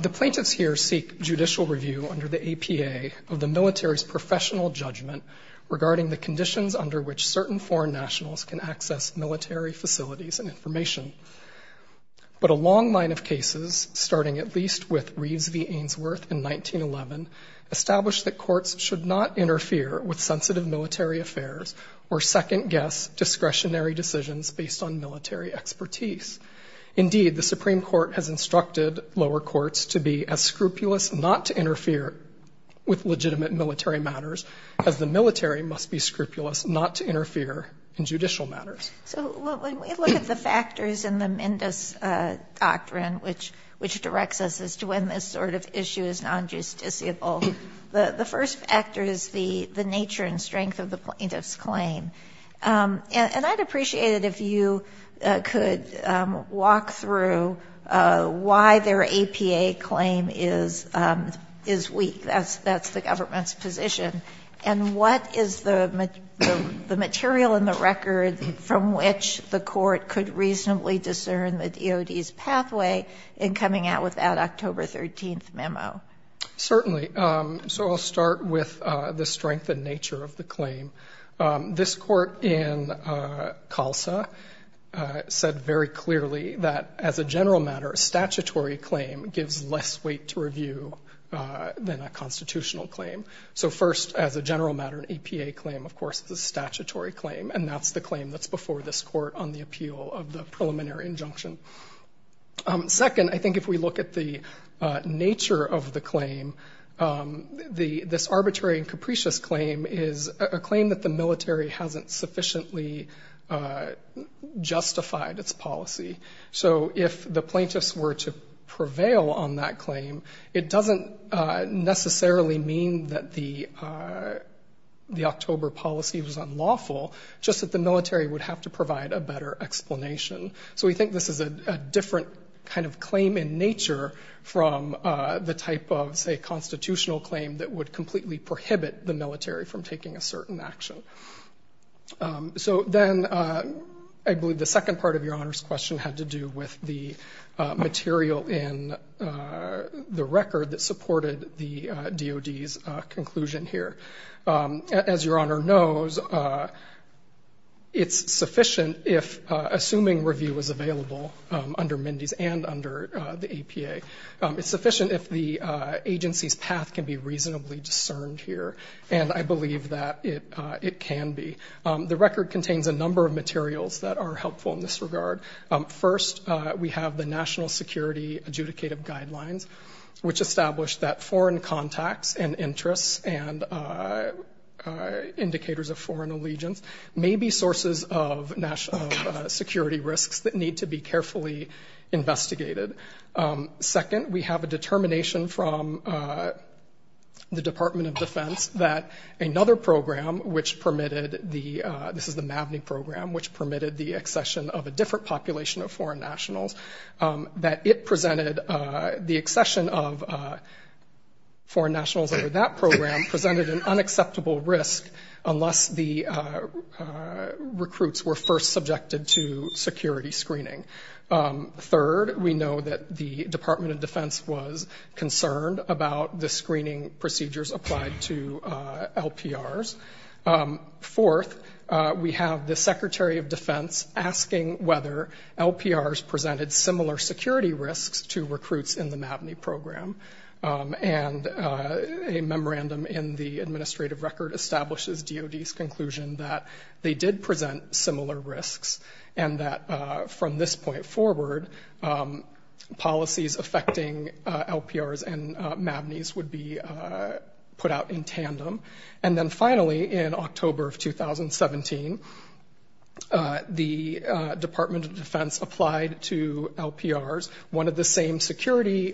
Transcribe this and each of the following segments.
The Plaintiffs here seek judicial review under the APA of the military's professional judgment regarding the conditions under which certain foreign nationals can access military facilities and information. But a long line of cases, starting at least with Reeves v. Ainsworth in 1911, established that courts should not interfere with sensitive military affairs or second-guess discretionary decisions based on military expertise. Indeed, the Supreme Court has instructed lower courts to be as scrupulous not to interfere with legitimate military matters as the military must be scrupulous not to interfere in judicial matters. So when we look at the factors in the Mendes doctrine, which directs us as to when this sort of issue is non-justiciable, the first factor is the nature and strength of the plaintiff's claim. And I'd appreciate it if you could walk through why their APA claim is weak. That's the government's position. And what is the material in the record from which the court could reasonably discern the DOD's pathway in coming out with that October 13th memo? Certainly. So I'll start with the strength and nature of the claim. This court in Calsa said very clearly that, as a general matter, a statutory claim gives less weight to review than a constitutional claim. So first, as a general matter, an APA claim, of course, is a statutory claim. And that's the claim that's before this court on the appeal of the preliminary injunction. Second, I think if we look at the nature of the claim, this arbitrary and capricious claim is a claim that the military hasn't sufficiently justified its policy. So if the plaintiffs were to prevail on that claim, it doesn't necessarily mean that the October policy was unlawful, just that the military would have to provide a better explanation. So we think this is a different kind of claim in nature from the type of, say, constitutional claim that would completely prohibit the military from taking a certain action. So then, I believe the second part of Your Honor's question had to do with the material in the record that supported the DOD's conclusion here. As Your Honor knows, it's sufficient if, assuming review is available under Mindy's and under the APA, it's sufficient if the it can be. The record contains a number of materials that are helpful in this regard. First, we have the National Security Adjudicative Guidelines, which establish that foreign contacts and interests and indicators of foreign allegiance may be sources of national security risks that need to be carefully investigated. Second, we have a determination from the Department of Defense that another program which permitted the, this is the MAVNI program, which permitted the accession of a different population of foreign nationals, that it presented the accession of foreign nationals over that program presented an unacceptable risk unless the recruits were first subjected to security screening. Third, we know that the Department of Defense was concerned about the screening procedures applied to LPRs. Fourth, we have the Secretary of Defense asking whether LPRs presented similar security risks to recruits in the MAVNI program. And a memorandum in the administrative record establishes DOD's conclusion that they did present similar risks and that from this point forward, policies affecting LPRs and MAVNIs would be put out in tandem. And then finally, in October of 2017, the Department of Defense applied to LPRs one of the same security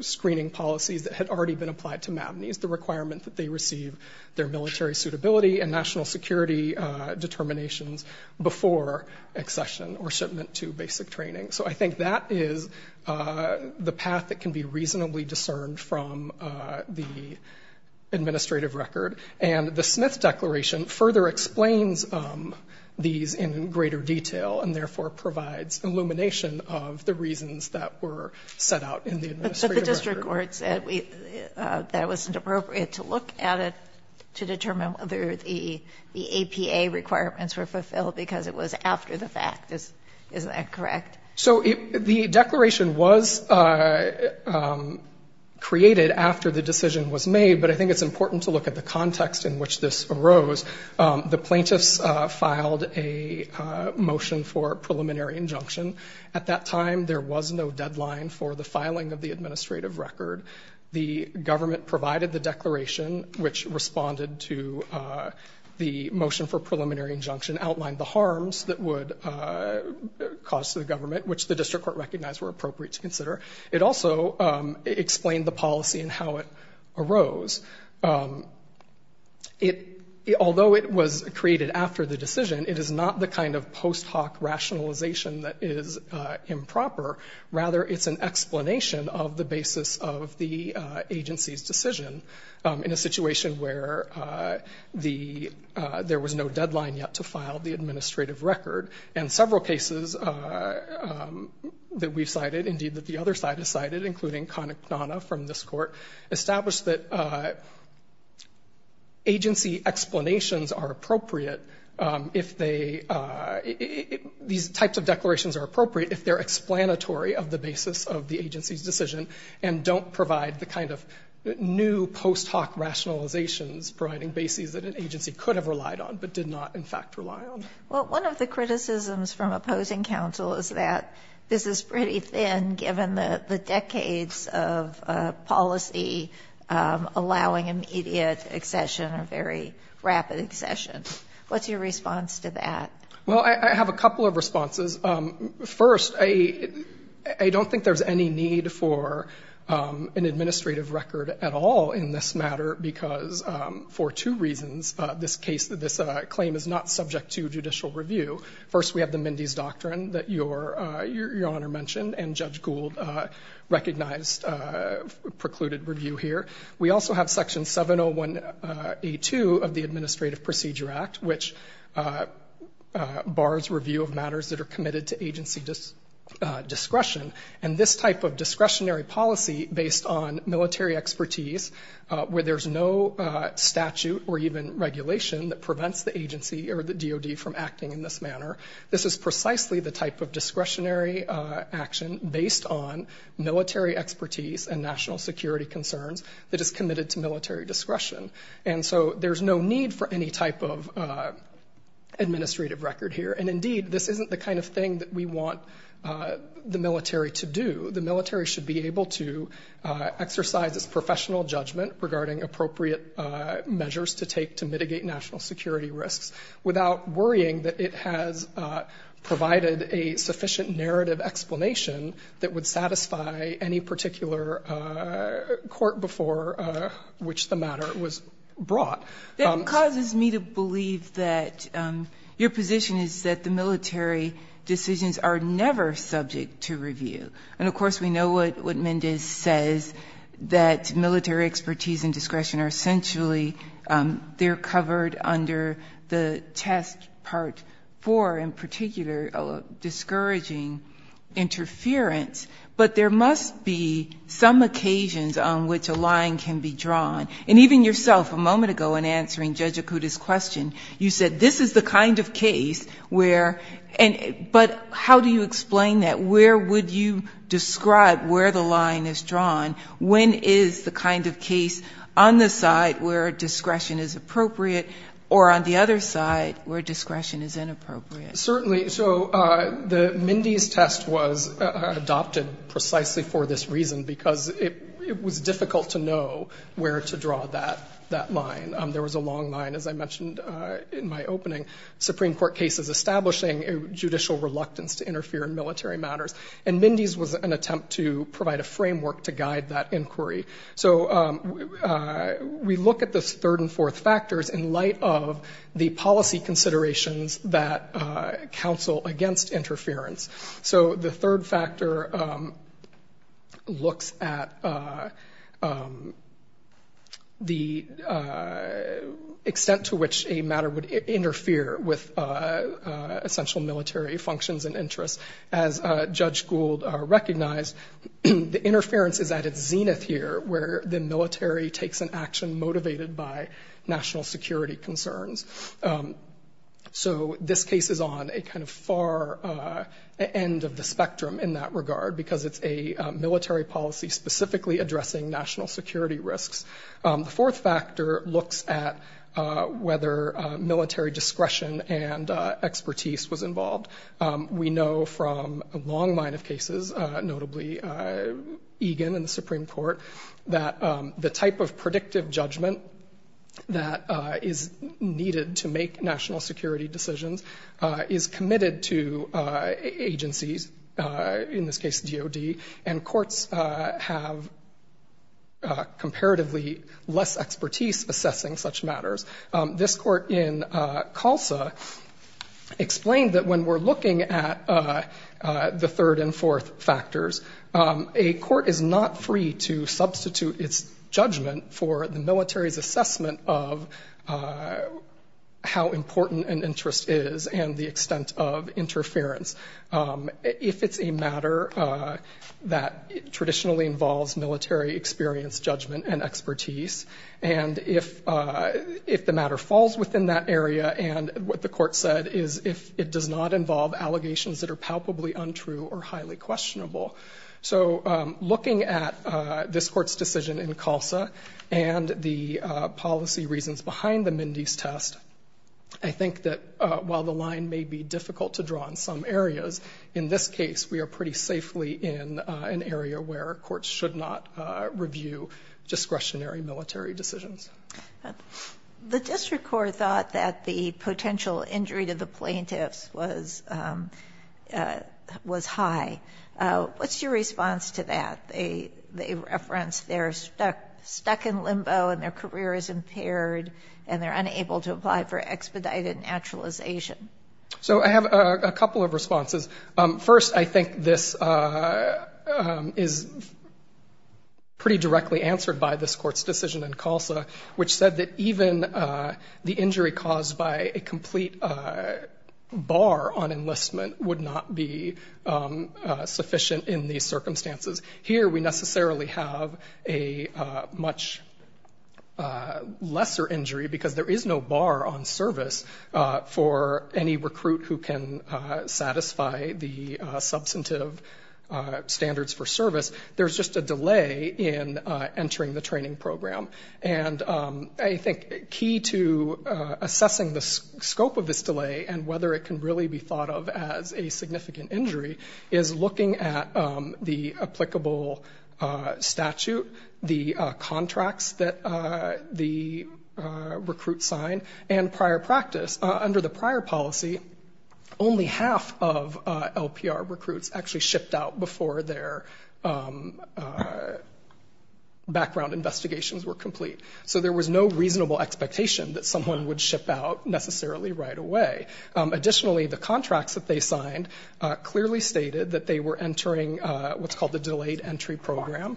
screening policies that had already been applied to MAVNIs, the requirement that they receive their military suitability and national security determinations before accession or shipment to basic training. So I think that is the path that can be reasonably discerned from the administrative record. And the Smith Declaration further explains these in greater detail and therefore provides illumination of the reasons that were set out in the administrative record. But the district court said that it was inappropriate to look at it to determine whether the APA requirements were fulfilled because it was after the fact. Is that correct? So the declaration was created after the decision was made, but I think it's important to look at the context in which this arose. The plaintiffs filed a motion for preliminary injunction. At that time, there was no deadline for the filing of the administrative record. The government provided the declaration, which responded to the motion for preliminary injunction, outlined the harms that would cause to the government, which the district court recognized were appropriate to consider. It also explained the policy and how it arose. Although it was created after the decision, it is not the kind of post hoc rationalization that is improper. Rather, it's an explanation of the basis of the agency's decision in a situation where there was no deadline yet to file the administrative record. And several cases that we cited, indeed that the other side has cited, including Connick-Panana from this court, established that agency explanations are appropriate if they, these types of declarations are appropriate if they're explanatory of the basis of the agency's decision and don't provide the kind of new post hoc rationalizations providing basis that an agency could have relied on but did not, in fact, rely on. Well, one of the criticisms from opposing counsel is that this is pretty thin given the decades of policy allowing immediate accession or very rapid accession. What's your response to that? Well, I have a couple of responses. First, I don't think there's any need for an administrative record at all in this matter because for two reasons this case, this claim is not subject to judicial review. First, we have the Mindy's Doctrine that Your Honor mentioned and Judge Gould recognized precluded review here. We also have Section 701A2 of the Administrative Procedure Act which bars review of matters that are committed to agency discretion. And this type of discretionary policy based on military expertise where there's no statute or even regulation that prevents the agency or the DOD from acting in this manner, this is precisely the type of discretionary action based on military expertise and national security concerns that is committed to military discretion. And so there's no need for any type of administrative record here. And indeed, this isn't the kind of thing that we want the military to do. The military should be able to exercise its professional judgment regarding appropriate measures to take to mitigate national security risks without worrying that it has provided a sufficient narrative explanation that would satisfy any particular court before which the matter was brought. That causes me to believe that your position is that the military decisions are never subject to review. And of course, we know what Mendes says, that military expertise and discretion are essentially, they're covered under the test part four in particular, discouraging interference. But there must be some occasions on which a line can be drawn. And even yourself a moment ago in answering Judge Okuda's question, you said this is the kind of case where, but how do you explain that? Where would you describe where the line is drawn? When is the kind of case on the side where discretion is appropriate or on the other side where discretion is inappropriate? Certainly. So the Mendes test was adopted precisely for this reason because it was difficult to know where to draw that line. There was a long line, as I mentioned in my opening, Supreme Court cases establishing judicial reluctance to interfere in military matters. And Mendes was an attempt to provide a framework to guide that inquiry. So we look at the third and fourth factors in light of the policy considerations that counsel against interference. So the third factor looks at the extent to which a matter would interfere with essential military functions and interests. As Judge Gould recognized, the interference is at its zenith here where the military takes an action motivated by national security concerns. So this case is on a kind of far end of the spectrum in that regard because it's a military policy specifically addressing national security risks. The fourth factor looks at whether military discretion and expertise was involved. We know from a long line of cases, notably Egan in the Supreme Court, that the type of predictive judgment that is needed to make national security decisions is committed to agencies, in this case DOD, and courts have comparatively less expertise assessing such matters. This court in CULSA explained that when we're looking at the third and fourth factors, a court is not free to substitute its judgment for the military's assessment of how important an interest is and the extent of interference. If it's a matter that traditionally involves military experience, then it's judgment and expertise, and if the matter falls within that area and what the court said is if it does not involve allegations that are palpably untrue or highly questionable. So looking at this court's decision in CULSA and the policy reasons behind the Mindy's test, I think that while the line may be difficult to draw in some areas, in this case we are pretty safely in an area where courts should not review discretionary military decisions. The district court thought that the potential injury to the plaintiffs was high. What's your response to that? They referenced they're stuck in limbo and their career is impaired and they're unable to apply for expedited naturalization. So I have a couple of responses. First I think this is pretty directly answered by this court's decision in CULSA, which said that even the injury caused by a complete bar on enlistment would not be sufficient in these circumstances. Here we necessarily have a much lesser injury because there is no bar on service for any recruit who can satisfy the substantive standards for service. There's just a delay in entering the training program. And I think key to assessing the scope of this delay and whether it can really be thought of as a significant injury is looking at the applicable statute, the contracts that the recruit has to comply with and prior practice. Under the prior policy, only half of LPR recruits actually shipped out before their background investigations were complete. So there was no reasonable expectation that someone would ship out necessarily right away. Additionally, the contracts that they signed clearly stated that they were entering what's called the delayed entry program.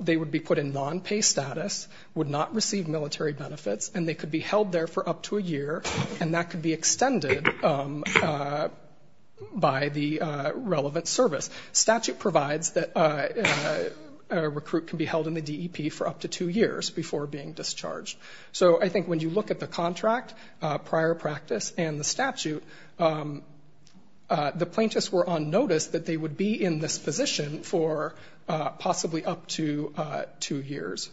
They would be put in non-pay status, would not receive military benefits, and they could be held there for up to a year, and that could be extended by the relevant service. Statute provides that a recruit can be held in the DEP for up to two years before being discharged. So I think when you look at the contract, prior practice, and the statute, the plaintiffs were on notice that they would be in this position for possibly up to two years.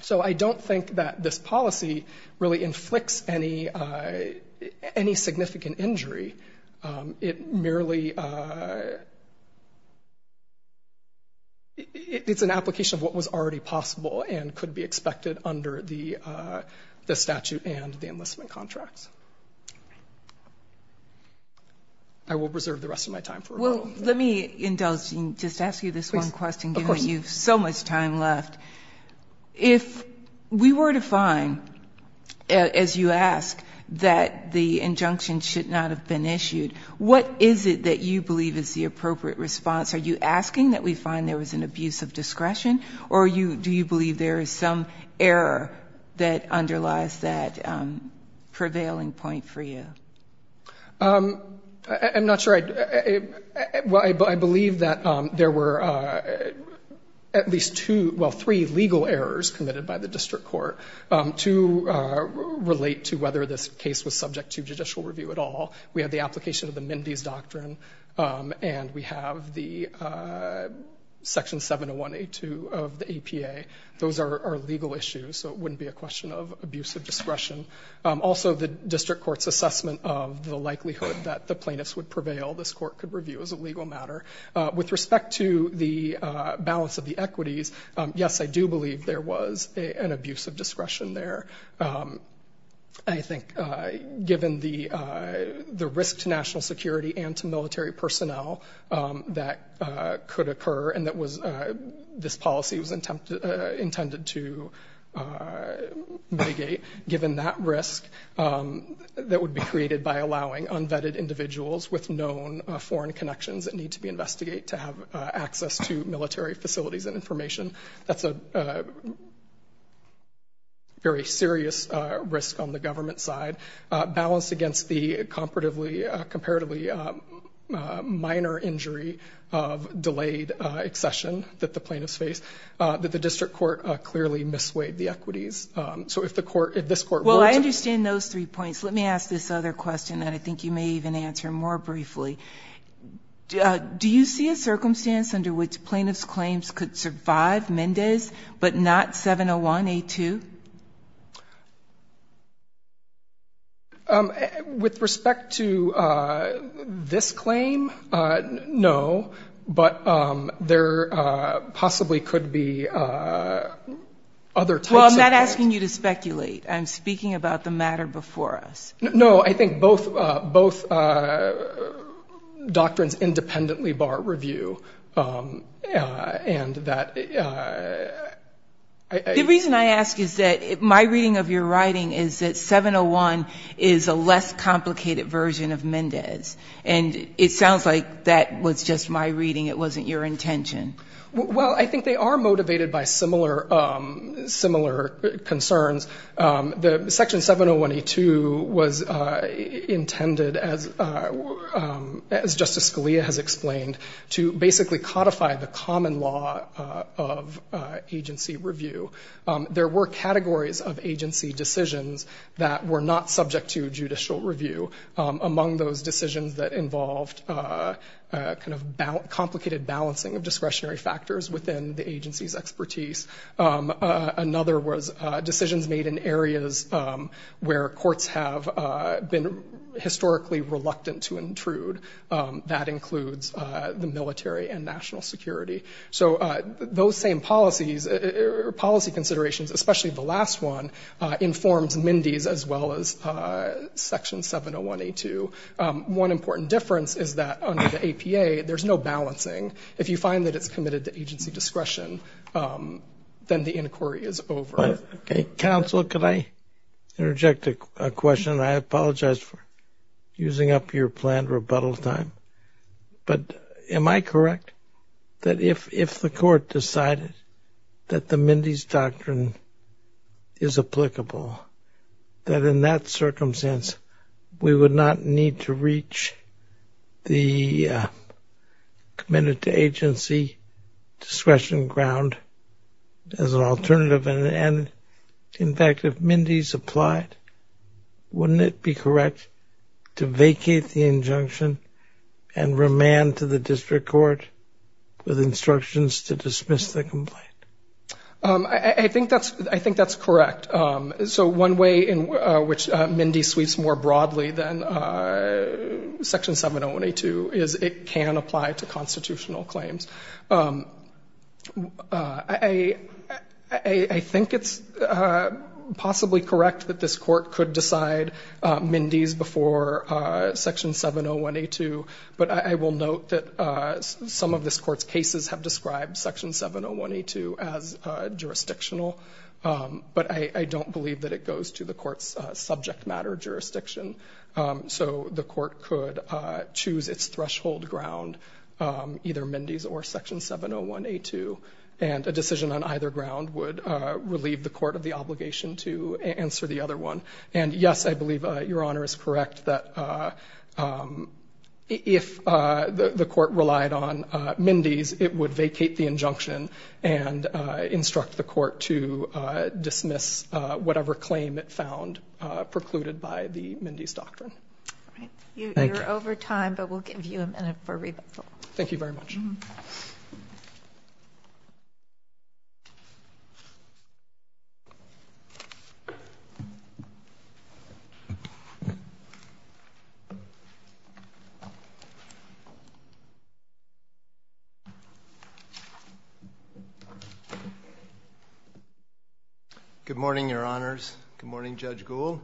So I don't think that this policy really inflicts any significant injury. It merely, it's an application of what was already possible and could be expected under the statute and the time frame. Well, let me indulge and just ask you this one question, given you so much time left. If we were to find, as you ask, that the injunction should not have been issued, what is it that you believe is the appropriate response? Are you asking that we find there was an abuse of discretion, or do you believe there is some error that underlies that prevailing point for you? I'm not sure. I believe that there were at least two, well, three legal errors committed by the district court to relate to whether this case was subject to judicial review at all. We have the application of the Mindy's Doctrine, and we have the Section 701A2 of the APA. Those are legal issues, so it wouldn't be a question of abuse of discretion. Also, the district court's assessment of the likelihood that the plaintiffs would prevail, this court could review as a legal matter. With respect to the balance of the equities, yes, I do believe there was an abuse of discretion there. I think given the risk to national security and to military personnel that could occur and that this policy was intended to mitigate, given that risk that would be created by allowing unvetted individuals with known foreign connections that need to be investigated to have access to military facilities and information, that's a very serious risk on the government side. Balance against the comparatively minor injury of delayed accession that the plaintiffs face, that the district court clearly misweighed the equities. So if this court were to... Well, I understand those three points. Let me ask this other question that I think you may even answer more briefly. Do you see a circumstance under which plaintiffs' claims could survive Mindy's but not 701A2? With respect to this claim, no, but there possibly could be other types of claims that could survive. Well, I'm not asking you to speculate. I'm speaking about the matter before us. No, I think both doctrines independently bar review and that... The reason I ask is that my reading of your writing is that 701 is a less complicated version of Mendez, and it sounds like that was just my reading. It wasn't your intention. Well, I think they are motivated by similar concerns. Section 701A2 was intended, as Justice Scalia has explained, to basically codify the common law of agency review. There were categories of agency decisions that were not subject to judicial review. Among those decisions that involved complicated balancing of discretionary factors within the agency's expertise. Another was decisions made in areas where courts have been historically reluctant to intrude. That includes the military and national security. So those same policies or policy considerations, especially the last one, informed Mindy's as well as Section 701A2. One important difference is that under the APA, there's no balancing. If you find that it's committed to agency discretion, then the inquiry is over. Counsel, could I interject a question? I apologize for using up your planned rebuttal time. But am I correct that if the court decided that the Mindy's doctrine is applicable, that in that circumstance, we would not need to reach the committed to agency discretion ground as an alternative? And in fact, if Mindy's applied, wouldn't it be correct to vacate the injunction and remand to the district court with instructions to dismiss the complaint? I think that's correct. So one way in which Mindy's sweeps more broadly than Section 701A2 is it can apply to constitutional claims. I think it's possibly correct that this court could decide Mindy's before Section 701A2. But I will note that some of this court's described Section 701A2 as jurisdictional. But I don't believe that it goes to the court's subject matter jurisdiction. So the court could choose its threshold ground either Mindy's or Section 701A2. And a decision on either ground would relieve the court of the obligation to answer the other one. And yes, I believe Your Honor is correct that if the court relied on Mindy's, it would vacate the injunction and instruct the court to dismiss whatever claim it found precluded by the Mindy's doctrine. All right. You're over time, but we'll give you a minute for rebuttal. Thank you very much. Good morning, Your Honors. Good morning, Judge Gould.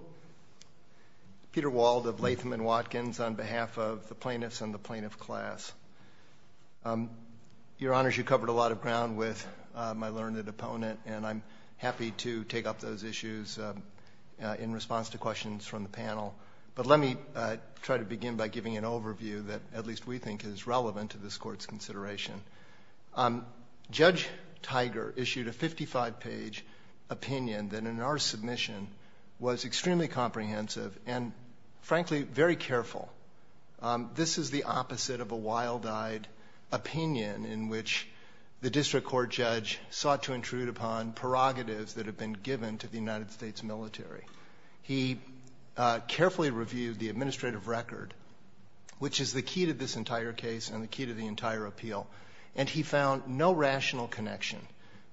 Peter Wald of Latham and Watkins on behalf of the plaintiffs and the plaintiff class. Your Honors, you covered a lot of ground with my learned opponent, and I'm happy to take up those issues in response to questions from the panel. But let me try to begin by giving an overview that at least we think is relevant to this court's consideration. Judge Tiger issued a 55-page opinion that in our submission was extremely comprehensive and, frankly, very careful. This is the opposite of a wild-eyed opinion in which the district court judge sought to intrude upon prerogatives that have been given to the United States military. He carefully reviewed the administrative record, which is the key to this entire case and the key to the entire appeal, and he found no rational connection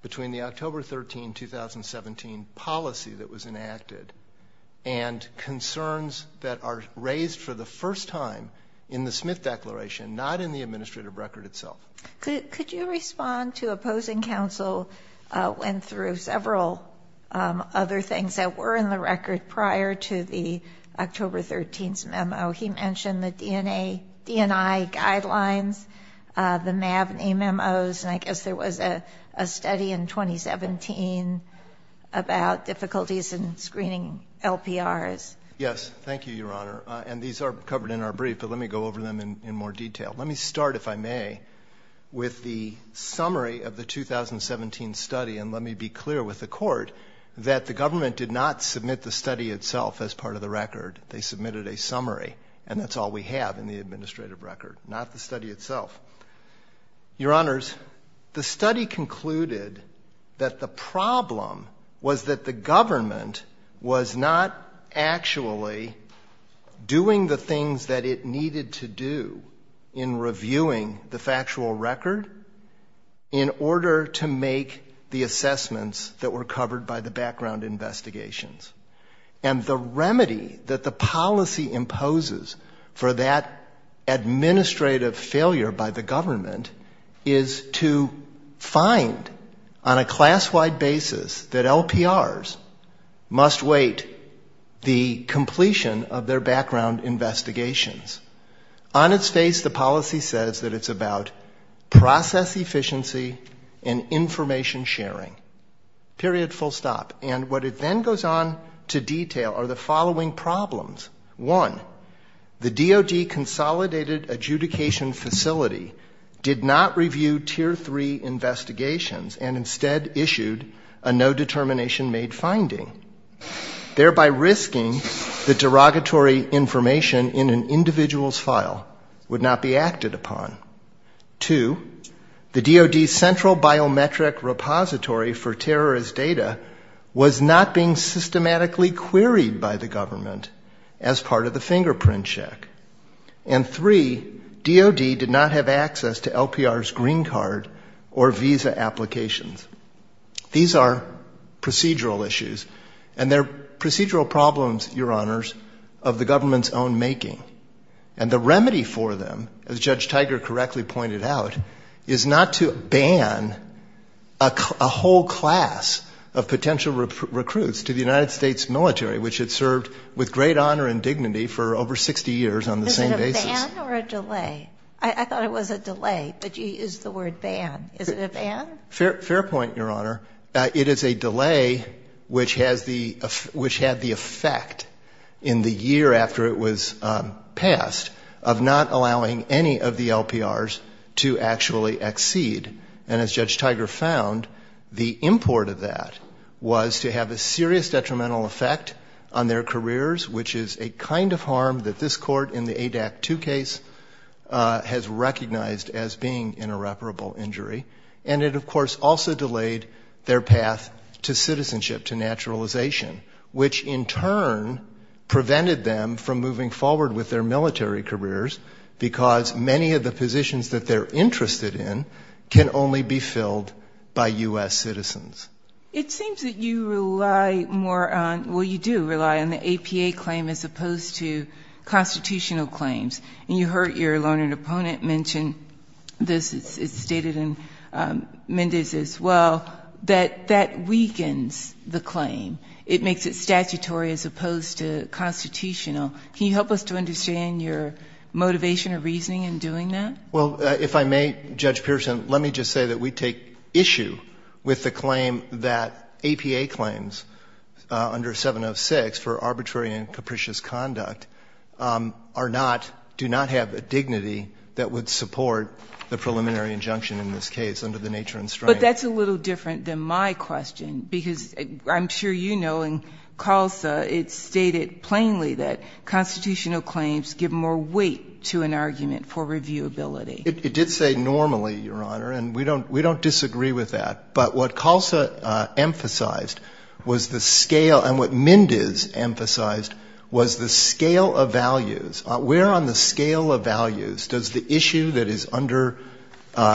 between the October 13, 2017 policy that was enacted and concerns that are raised for the first time in the Smith Declaration, not in the administrative record itself. Could you respond to opposing counsel went through several other things that were in the record prior to the October 13 memo? He mentioned the DNI guidelines, the MAVNI memos, and I guess there was a study in 2017 about difficulties in screening LPRs. Yes. Thank you, Your Honor. And these are covered in our brief, but let me go over them in more detail. Let me start, if I may, with the summary of the 2017 study, and let me be clear with the court that the government did not submit the study itself as part of the record. They submitted a summary, and that's all we have in the administrative record, not the study itself. Your Honors, the study concluded that the problem was that the government was not actually doing the things that it needed to do in reviewing the factual record in order to make the assessment that were covered by the background investigations. And the remedy that the policy imposes for that administrative failure by the government is to find on a class-wide basis that LPRs must wait the completion of their background investigations. On its face, the policy says that it's about process efficiency and information sharing. Period. Full stop. And what it then goes on to detail are the following problems. One, the DOD Consolidated Adjudication Facility did not review Tier 3 investigations and instead issued a no-determination made finding, thereby risking that derogatory information in an individual's file would not be acted upon. Two, the DOD Central Biometric Repository for Terrorist Data was not being systematically queried by the government as part of the fingerprint check. And three, DOD did not have access to LPR's green card or visa applications. These are procedural issues, and they're procedural problems, Your Honors, of the government's own making. And the remedy for them, as Judge Tiger correctly pointed out, is not to ban a whole class of potential recruits to the United States military, which had served with great honor and dignity for over 60 years on the same basis. Is it a ban or a delay? I thought it was a delay, but you used the word ban. Is it a ban? Fair point, Your Honor. It is a delay which has the effect in the year after it was passed. Of not allowing any of the LPRs to actually exceed. And as Judge Tiger found, the import of that was to have a serious detrimental effect on their careers, which is a kind of harm that this Court in the ADAC 2 case has recognized as being an irreparable injury. And it, of course, also delayed their path to citizenship, to naturalization, which in fact prevented them from moving forward with their military careers, because many of the positions that they're interested in can only be filled by U.S. citizens. It seems that you rely more on, well, you do rely on the APA claim as opposed to constitutional claims. And you heard your learned opponent mention this. It's stated in Mendes as well, that that weakens the claim. It makes it statutory as opposed to constitutional. Can you help us to understand your motivation or reasoning in doing that? Well, if I may, Judge Pearson, let me just say that we take issue with the claim that APA claims under 706 for arbitrary and capricious conduct are not, do not have a dignity that would support the preliminary injunction in this case under the nature and strength of the statute. But that's a little different than my question, because I'm sure you know in CALSA it's stated plainly that constitutional claims give more weight to an argument for reviewability. It did say normally, Your Honor, and we don't disagree with that. But what CALSA emphasized was the scale, and what Mendes emphasized, was the scale of values. Where on the scale of values does the issue that is under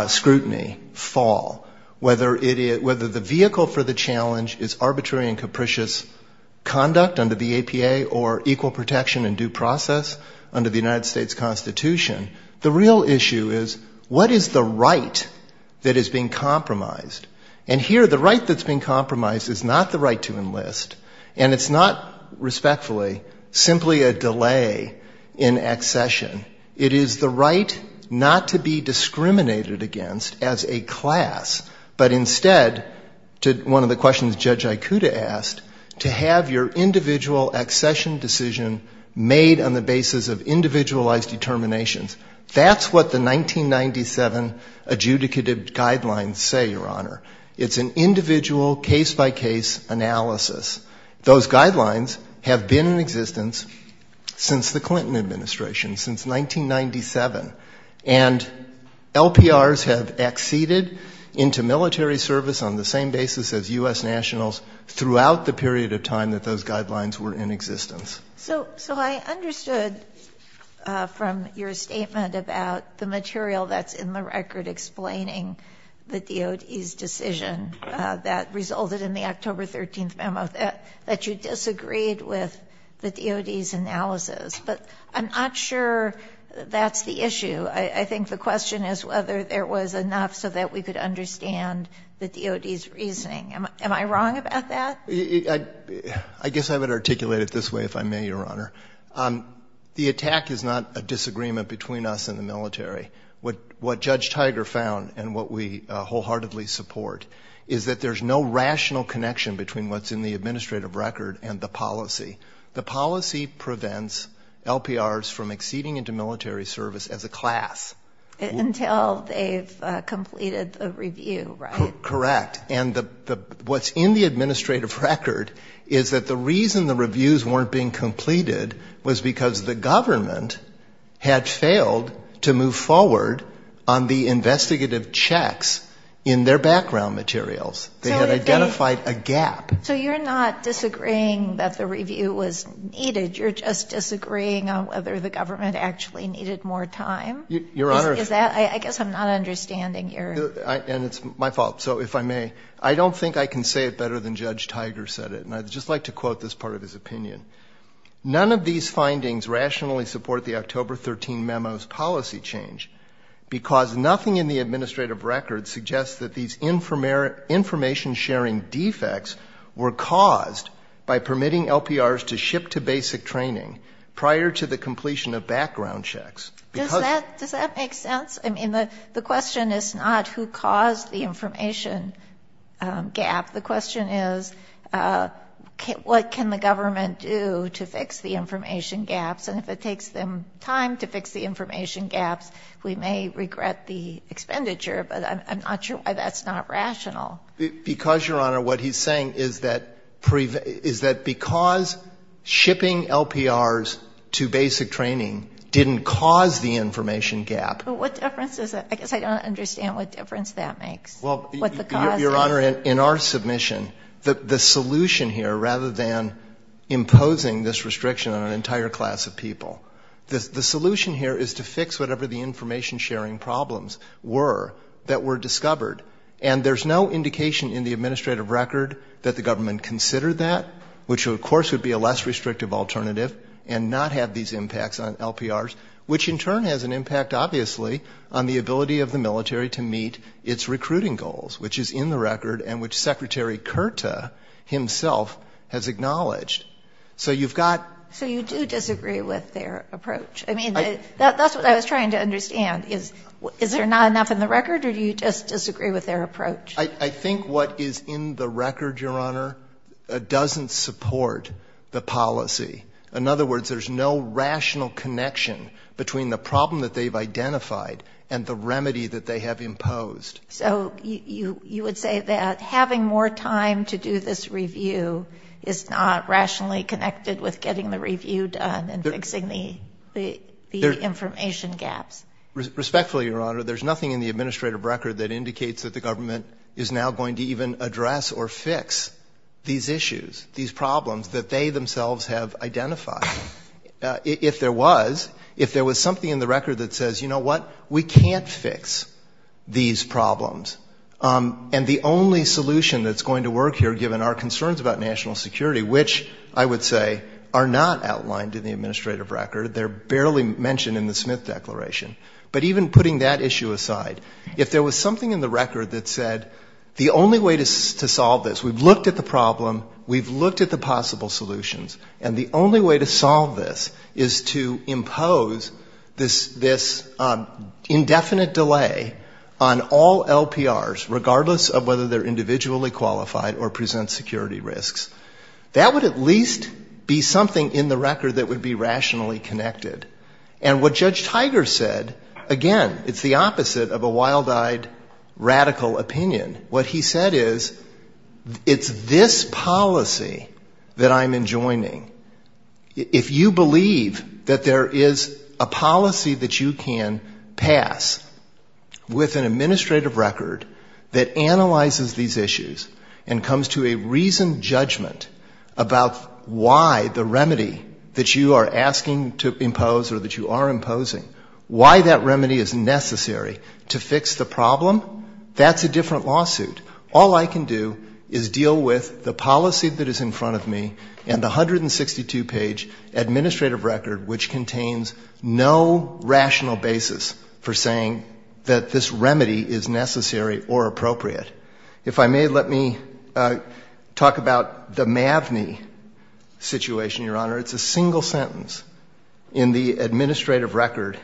scrutiny fall? Whether the vehicle for the challenge is arbitrary and capricious conduct under the APA or equal protection and due process under the United States Constitution. The real issue is what is the right that is being compromised? And here the right that's being compromised is not the right to enlist, and it's not, respectfully, simply a delay in accession. It is the right not to be discriminated against as a class, but instead, to one of the questions Judge Aikuda asked, to have your individual accession decision made on the basis of individualized determinations. That's what the 1997 adjudicative guidelines say, Your Honor. It's an individual case-by-case analysis. Those guidelines have been in existence since the Clinton administration, since 1997. And LPRs have acceded into military service on the same basis as U.S. nationals throughout the period of time that those guidelines were in existence. So I understood from your statement about the material that's in the record explaining the DOD's decision that resulted in the October 13th memo that you disagreed with the DOD's analysis. But I'm not sure that's the issue. I think the question is whether there was enough so that we could understand the DOD's reasoning. Am I wrong about that? I guess I would articulate it this way, if I may, Your Honor. The attack is not a disagreement between us and the military. What Judge Tiger found, and what we wholeheartedly support, is that there's no rational connection between what's in the administrative record and the policy. The policy prevents LPRs from acceding into military service as a class. Until they've completed a review, right? Correct. And what's in the administrative record is that the reason the reviews weren't being completed was because the government had failed to move forward on the investigative checks in their background materials. They had identified a gap. So you're not disagreeing that the review was needed. You're just disagreeing on whether the government actually needed more time? Your Honor. Is that? I guess I'm not understanding your... And it's my fault. So if I may, I don't think I can say it better than Judge Tiger said it. And I'd just like to quote this part of his opinion. None of these findings rationally support the October 13 memos policy change because nothing in the administrative record suggests that these information sharing defects were caused by permitting LPRs to ship to basic training prior to the completion of background checks. Does that make sense? I mean, the question is not who caused the information gap. The question is what can the government do to fix the information gaps? And if it takes them time to fix the information gaps, we may regret the expenditure. But I'm not sure why that's not rational. Because, Your Honor, what he's saying is that because shipping LPRs to basic training didn't cause the information gap. What difference is that? I guess I don't understand what difference that makes. What's the cause? Your Honor, in our submission, the solution here, rather than imposing this restriction on an entire class of people, the solution here is to fix whatever the information sharing problems were that were discovered. And there's no indication in the administrative record that the government considered that, which of course would be a less restrictive alternative and not have these impacts on LPRs, which in turn has an impact, obviously, on the ability of the military to meet its recruiting goals, which is in the record and which Secretary Curta himself has acknowledged. So you've got — So you do disagree with their approach? I mean, that's what I was trying to understand. Is there not enough in the record or do you just disagree with their approach? I think what is in the record, Your Honor, doesn't support the policy. In other words, there's no rational connection between the problem that they've identified and the remedy that they have imposed. So you would say that having more time to do this review is not rationally connected with getting the review done and fixing the information gaps? Respectfully, Your Honor, there's nothing in the administrative record that indicates that the government is now going to even address or fix these issues, these problems that they themselves have identified. If there was, if there was something in the record that says, you know what, we can't fix these problems, and the only solution that's going to work here given our concerns about national security, which I would say are not outlined in the administrative record, they're barely mentioned in the Smith Declaration. But even putting that issue aside, if there was something in the record that said the only way to solve this, we've looked at the problem, we've looked at the possible solutions, and the only way to solve this is to impose this indefinite delay on all LPRs, regardless of whether they're individually qualified or present security risks, that would at least be something in the record that would be rationally connected. And what Judge Tiger said, again, it's the opposite of a wild-eyed, radical opinion. What he said is, it's this policy that I'm enjoining. If you believe that there is a policy that you can pass with an administrative record that analyzes these issues and comes to a reasoned judgment about why the remedy that you are asking to impose or that you are imposing, why that remedy is necessary to fix the problem, that's a different lawsuit. All I can do is deal with the policy that is in front of me and the 162-page administrative record which contains no rational basis for saying that this remedy is necessary or appropriate. If I may, let me talk about the MAVNI situation, Your Honor. It's a single sentence in the administrative record.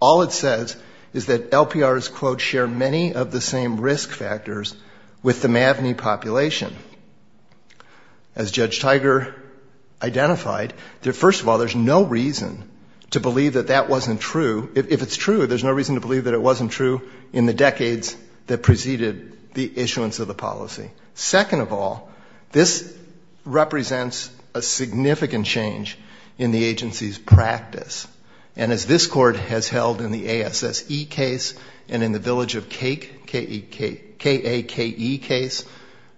All it says is that LPRs, quote, share many of the same risk factors with the MAVNI population. As Judge Tiger identified, first of all, there's no reason to believe that that wasn't true. If it's true, there's no reason to believe that it wasn't true in the decades that preceded the issuance of the policy. Second of all, this represents a significant change in the agency's practice. And as this Court has held in the ASSE case and in the Village of Kake case,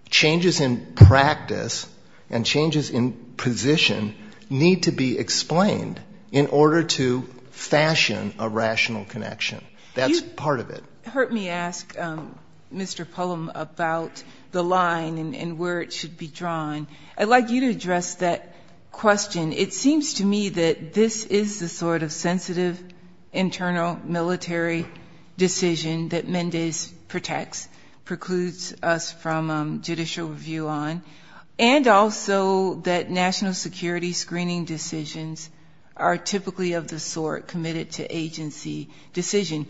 changes in practice and changes in position need to be explained in order to fashion a rational connection. That's part of it. Hurt me ask, Mr. Pullum, about the line and where it should be drawn. I'd like you to address that question. It seems to me that this is the sort of sensitive internal military decision that Mendes protects, precludes us from judicial review on, and also that national security screening decisions are typically of the sort committed to agency decision.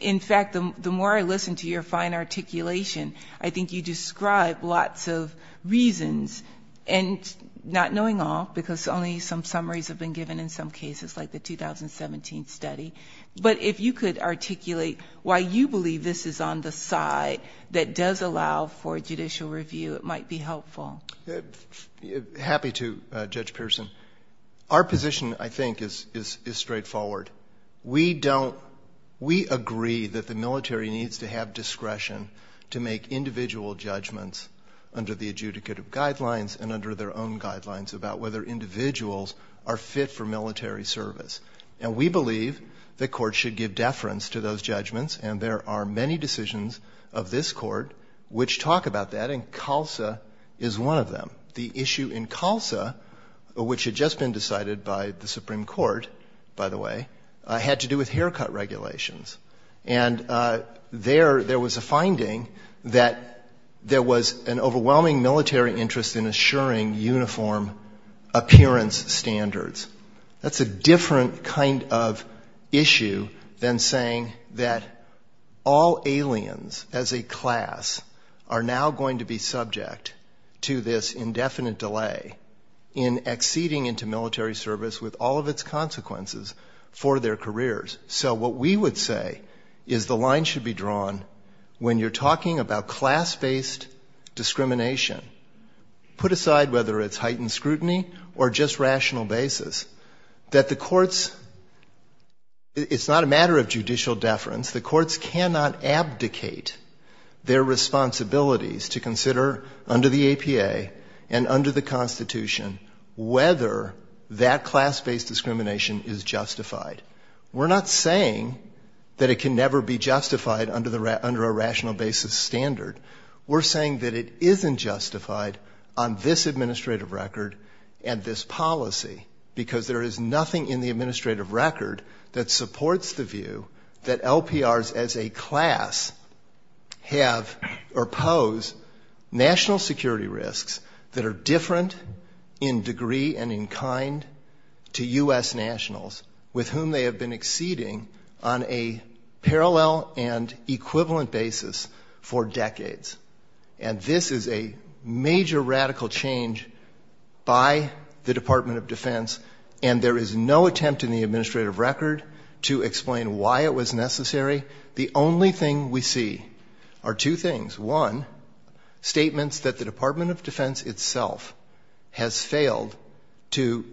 In fact, the more I listen to your fine articulation, I think you describe lots of reasons, and not knowing all, because only some summaries have been given in some cases, like the 2017 study. But if you could articulate why you believe this is on the side that does allow for judicial review, it might be helpful. Happy to, Judge Pearson. Our position, I think, is straightforward. We agree that the military needs to have discretion to make individual judgments under the adjudicative guidelines and under their own guidelines about whether individuals are fit for military service. And we believe the Court should give deference to those judgments, and there are many decisions of this Court which talk about that, and CALSA is one of them. The issue in CALSA, which had just been decided by the Supreme Court, by the way, had to do with haircut regulations. And there, there was a finding that there was an overwhelming military interest in assuring uniform appearance standards. That's a different kind of issue than saying that all aliens as a class are now going to be subject to this indefinite delay in acceding into military service with all of its consequences for their careers. So what we would say is the line should be drawn when you're talking about class-based discrimination, put aside whether it's heightened scrutiny or just rational basis, that the matter of judicial deference, the courts cannot abdicate their responsibilities to consider under the APA and under the Constitution whether that class-based discrimination is justified. We're not saying that it can never be justified under a rational basis standard. We're saying that it isn't justified on this administrative record and this policy, because there is nothing in the administrative record that supports the view that LPRs as a class have or pose national security risks that are different in degree and in kind to U.S. nationals with whom they have been acceding on a parallel and equivalent basis for decades. And this is a major radical change by the Department of Defense, and there is no attempt in the administrative record to explain why it was necessary. The only thing we see are two things. One, statements that the Department of Defense itself has failed to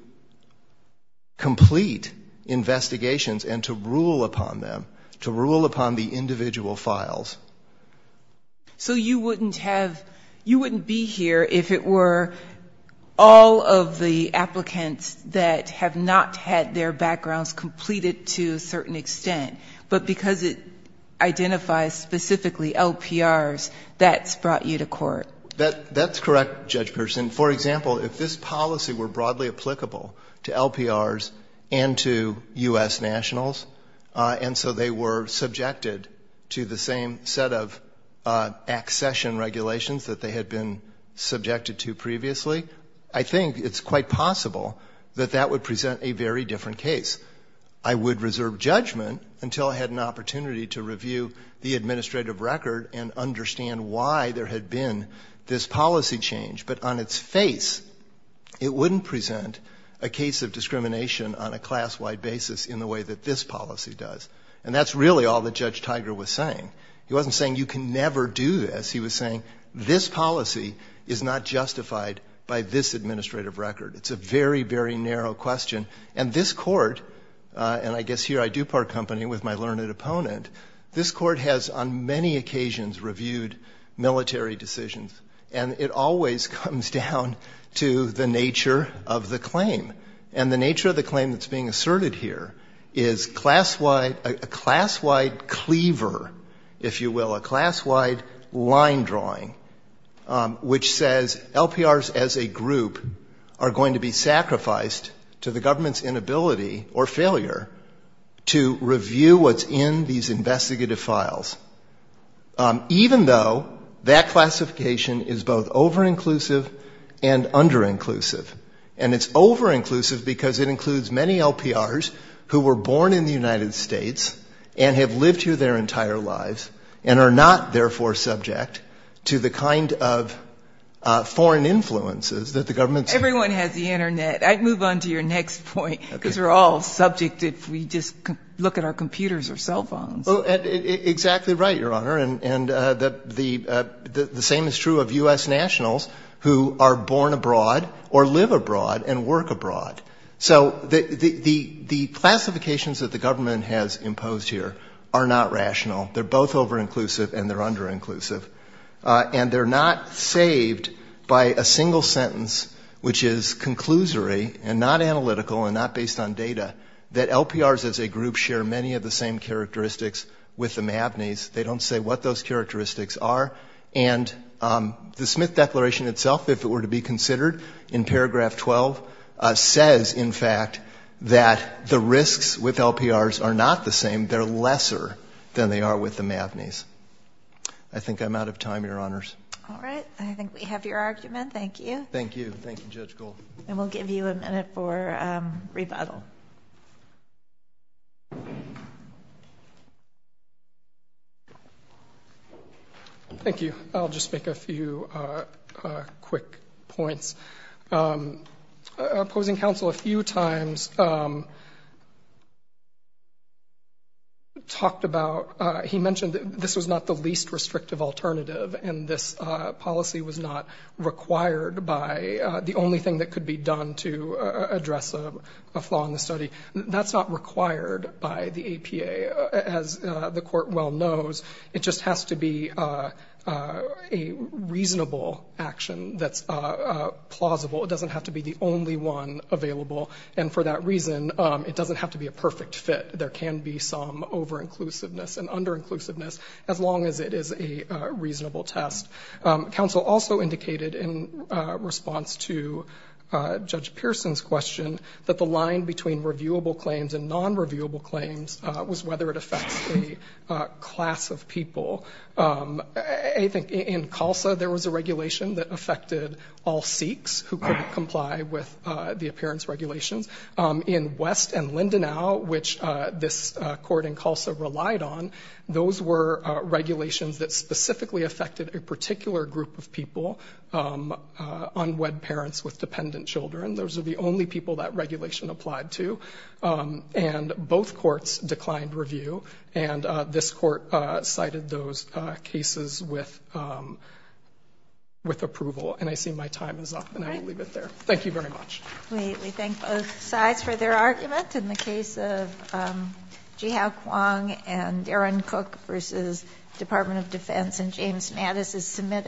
complete investigations and to rule upon them, to rule upon the individual files. So you wouldn't have, you wouldn't be here if it were all of the applicants that have not had their backgrounds completed to a certain extent, but because it identifies specifically LPRs, that's brought you to court? That's correct, Judge Pearson. For example, if this policy were broadly applicable to a set of accession regulations that they had been subjected to previously, I think it's quite possible that that would present a very different case. I would reserve judgment until I had an opportunity to review the administrative record and understand why there had been this policy change. But on its face, it wouldn't present a case of discrimination on a class-wide basis in the way that this policy does. And that's really all that Judge Tiger was saying. He wasn't saying you can never do this. He was saying this policy is not justified by this administrative record. It's a very, very narrow question. And this Court, and I guess here I do part company with my learned opponent, this Court has on many occasions reviewed military decisions. And it always comes down to the nature of the claim. And the nature of the claim that's being asserted here is a class-wide cleaver, if you will, a class-wide line drawing, which says LPRs as a group are going to be sacrificed to the government's inability or failure to review what's in these investigative files, even though that classification is both over-inclusive and under-inclusive. And it's over-inclusive because it includes many LPRs who were born in the United States and have lived here their entire lives and are not, therefore, subject to the kind of foreign influences that the government's ---- Everyone has the Internet. I'd move on to your next point, because we're all subject if we just look at our computers or cell phones. Exactly right, Your Honor. And the same is true of U.S. nationals who are born abroad or live abroad and work abroad. So the classifications that the government has imposed here are not rational. They're both over-inclusive and they're under-inclusive. And they're not saved by a single sentence, which is conclusory and not analytical and not based on data, that LPRs as a group share many of the same characteristics with the MAVNIs. They don't say what those characteristics are. And the Smith Declaration itself, if it were to be considered, in paragraph 12, says, in fact, that the risks with LPRs are not the same. They're lesser than they are with the MAVNIs. I think I'm out of time, Your Honors. All right. I think we have your argument. Thank you. Thank you. Thank you, Judge Gould. And we'll give you a minute for rebuttal. Thank you. I'll just make a few quick points. Opposing counsel a few times talked about, he mentioned that this was not the least restrictive alternative and this policy was not required by the only thing that could be done to address a flaw in the study. That's not required by the APA. As the Court well knows, it just has to be a reasonable action that's plausible. It doesn't have to be the only one available. And for that reason, it doesn't have to be a perfect fit. There can be some over-inclusiveness and under-inclusiveness as long as it is a response to Judge Pearson's question that the line between reviewable claims and non-reviewable claims was whether it affects a class of people. I think in CULSA there was a regulation that affected all Sikhs who couldn't comply with the appearance regulations. In West and Lindenau, which this Court in CULSA relied on, those were regulations that specifically affected a particular group of people, unwed parents with dependent children. Those are the only people that regulation applied to. And both courts declined review. And this Court cited those cases with approval. And I see my time is up and I will leave it there. Thank you very much. We thank both sides for their argument. In the case of Jihao Kuang and Aaron Cook versus Department of Defense, and James Mattis is submitted.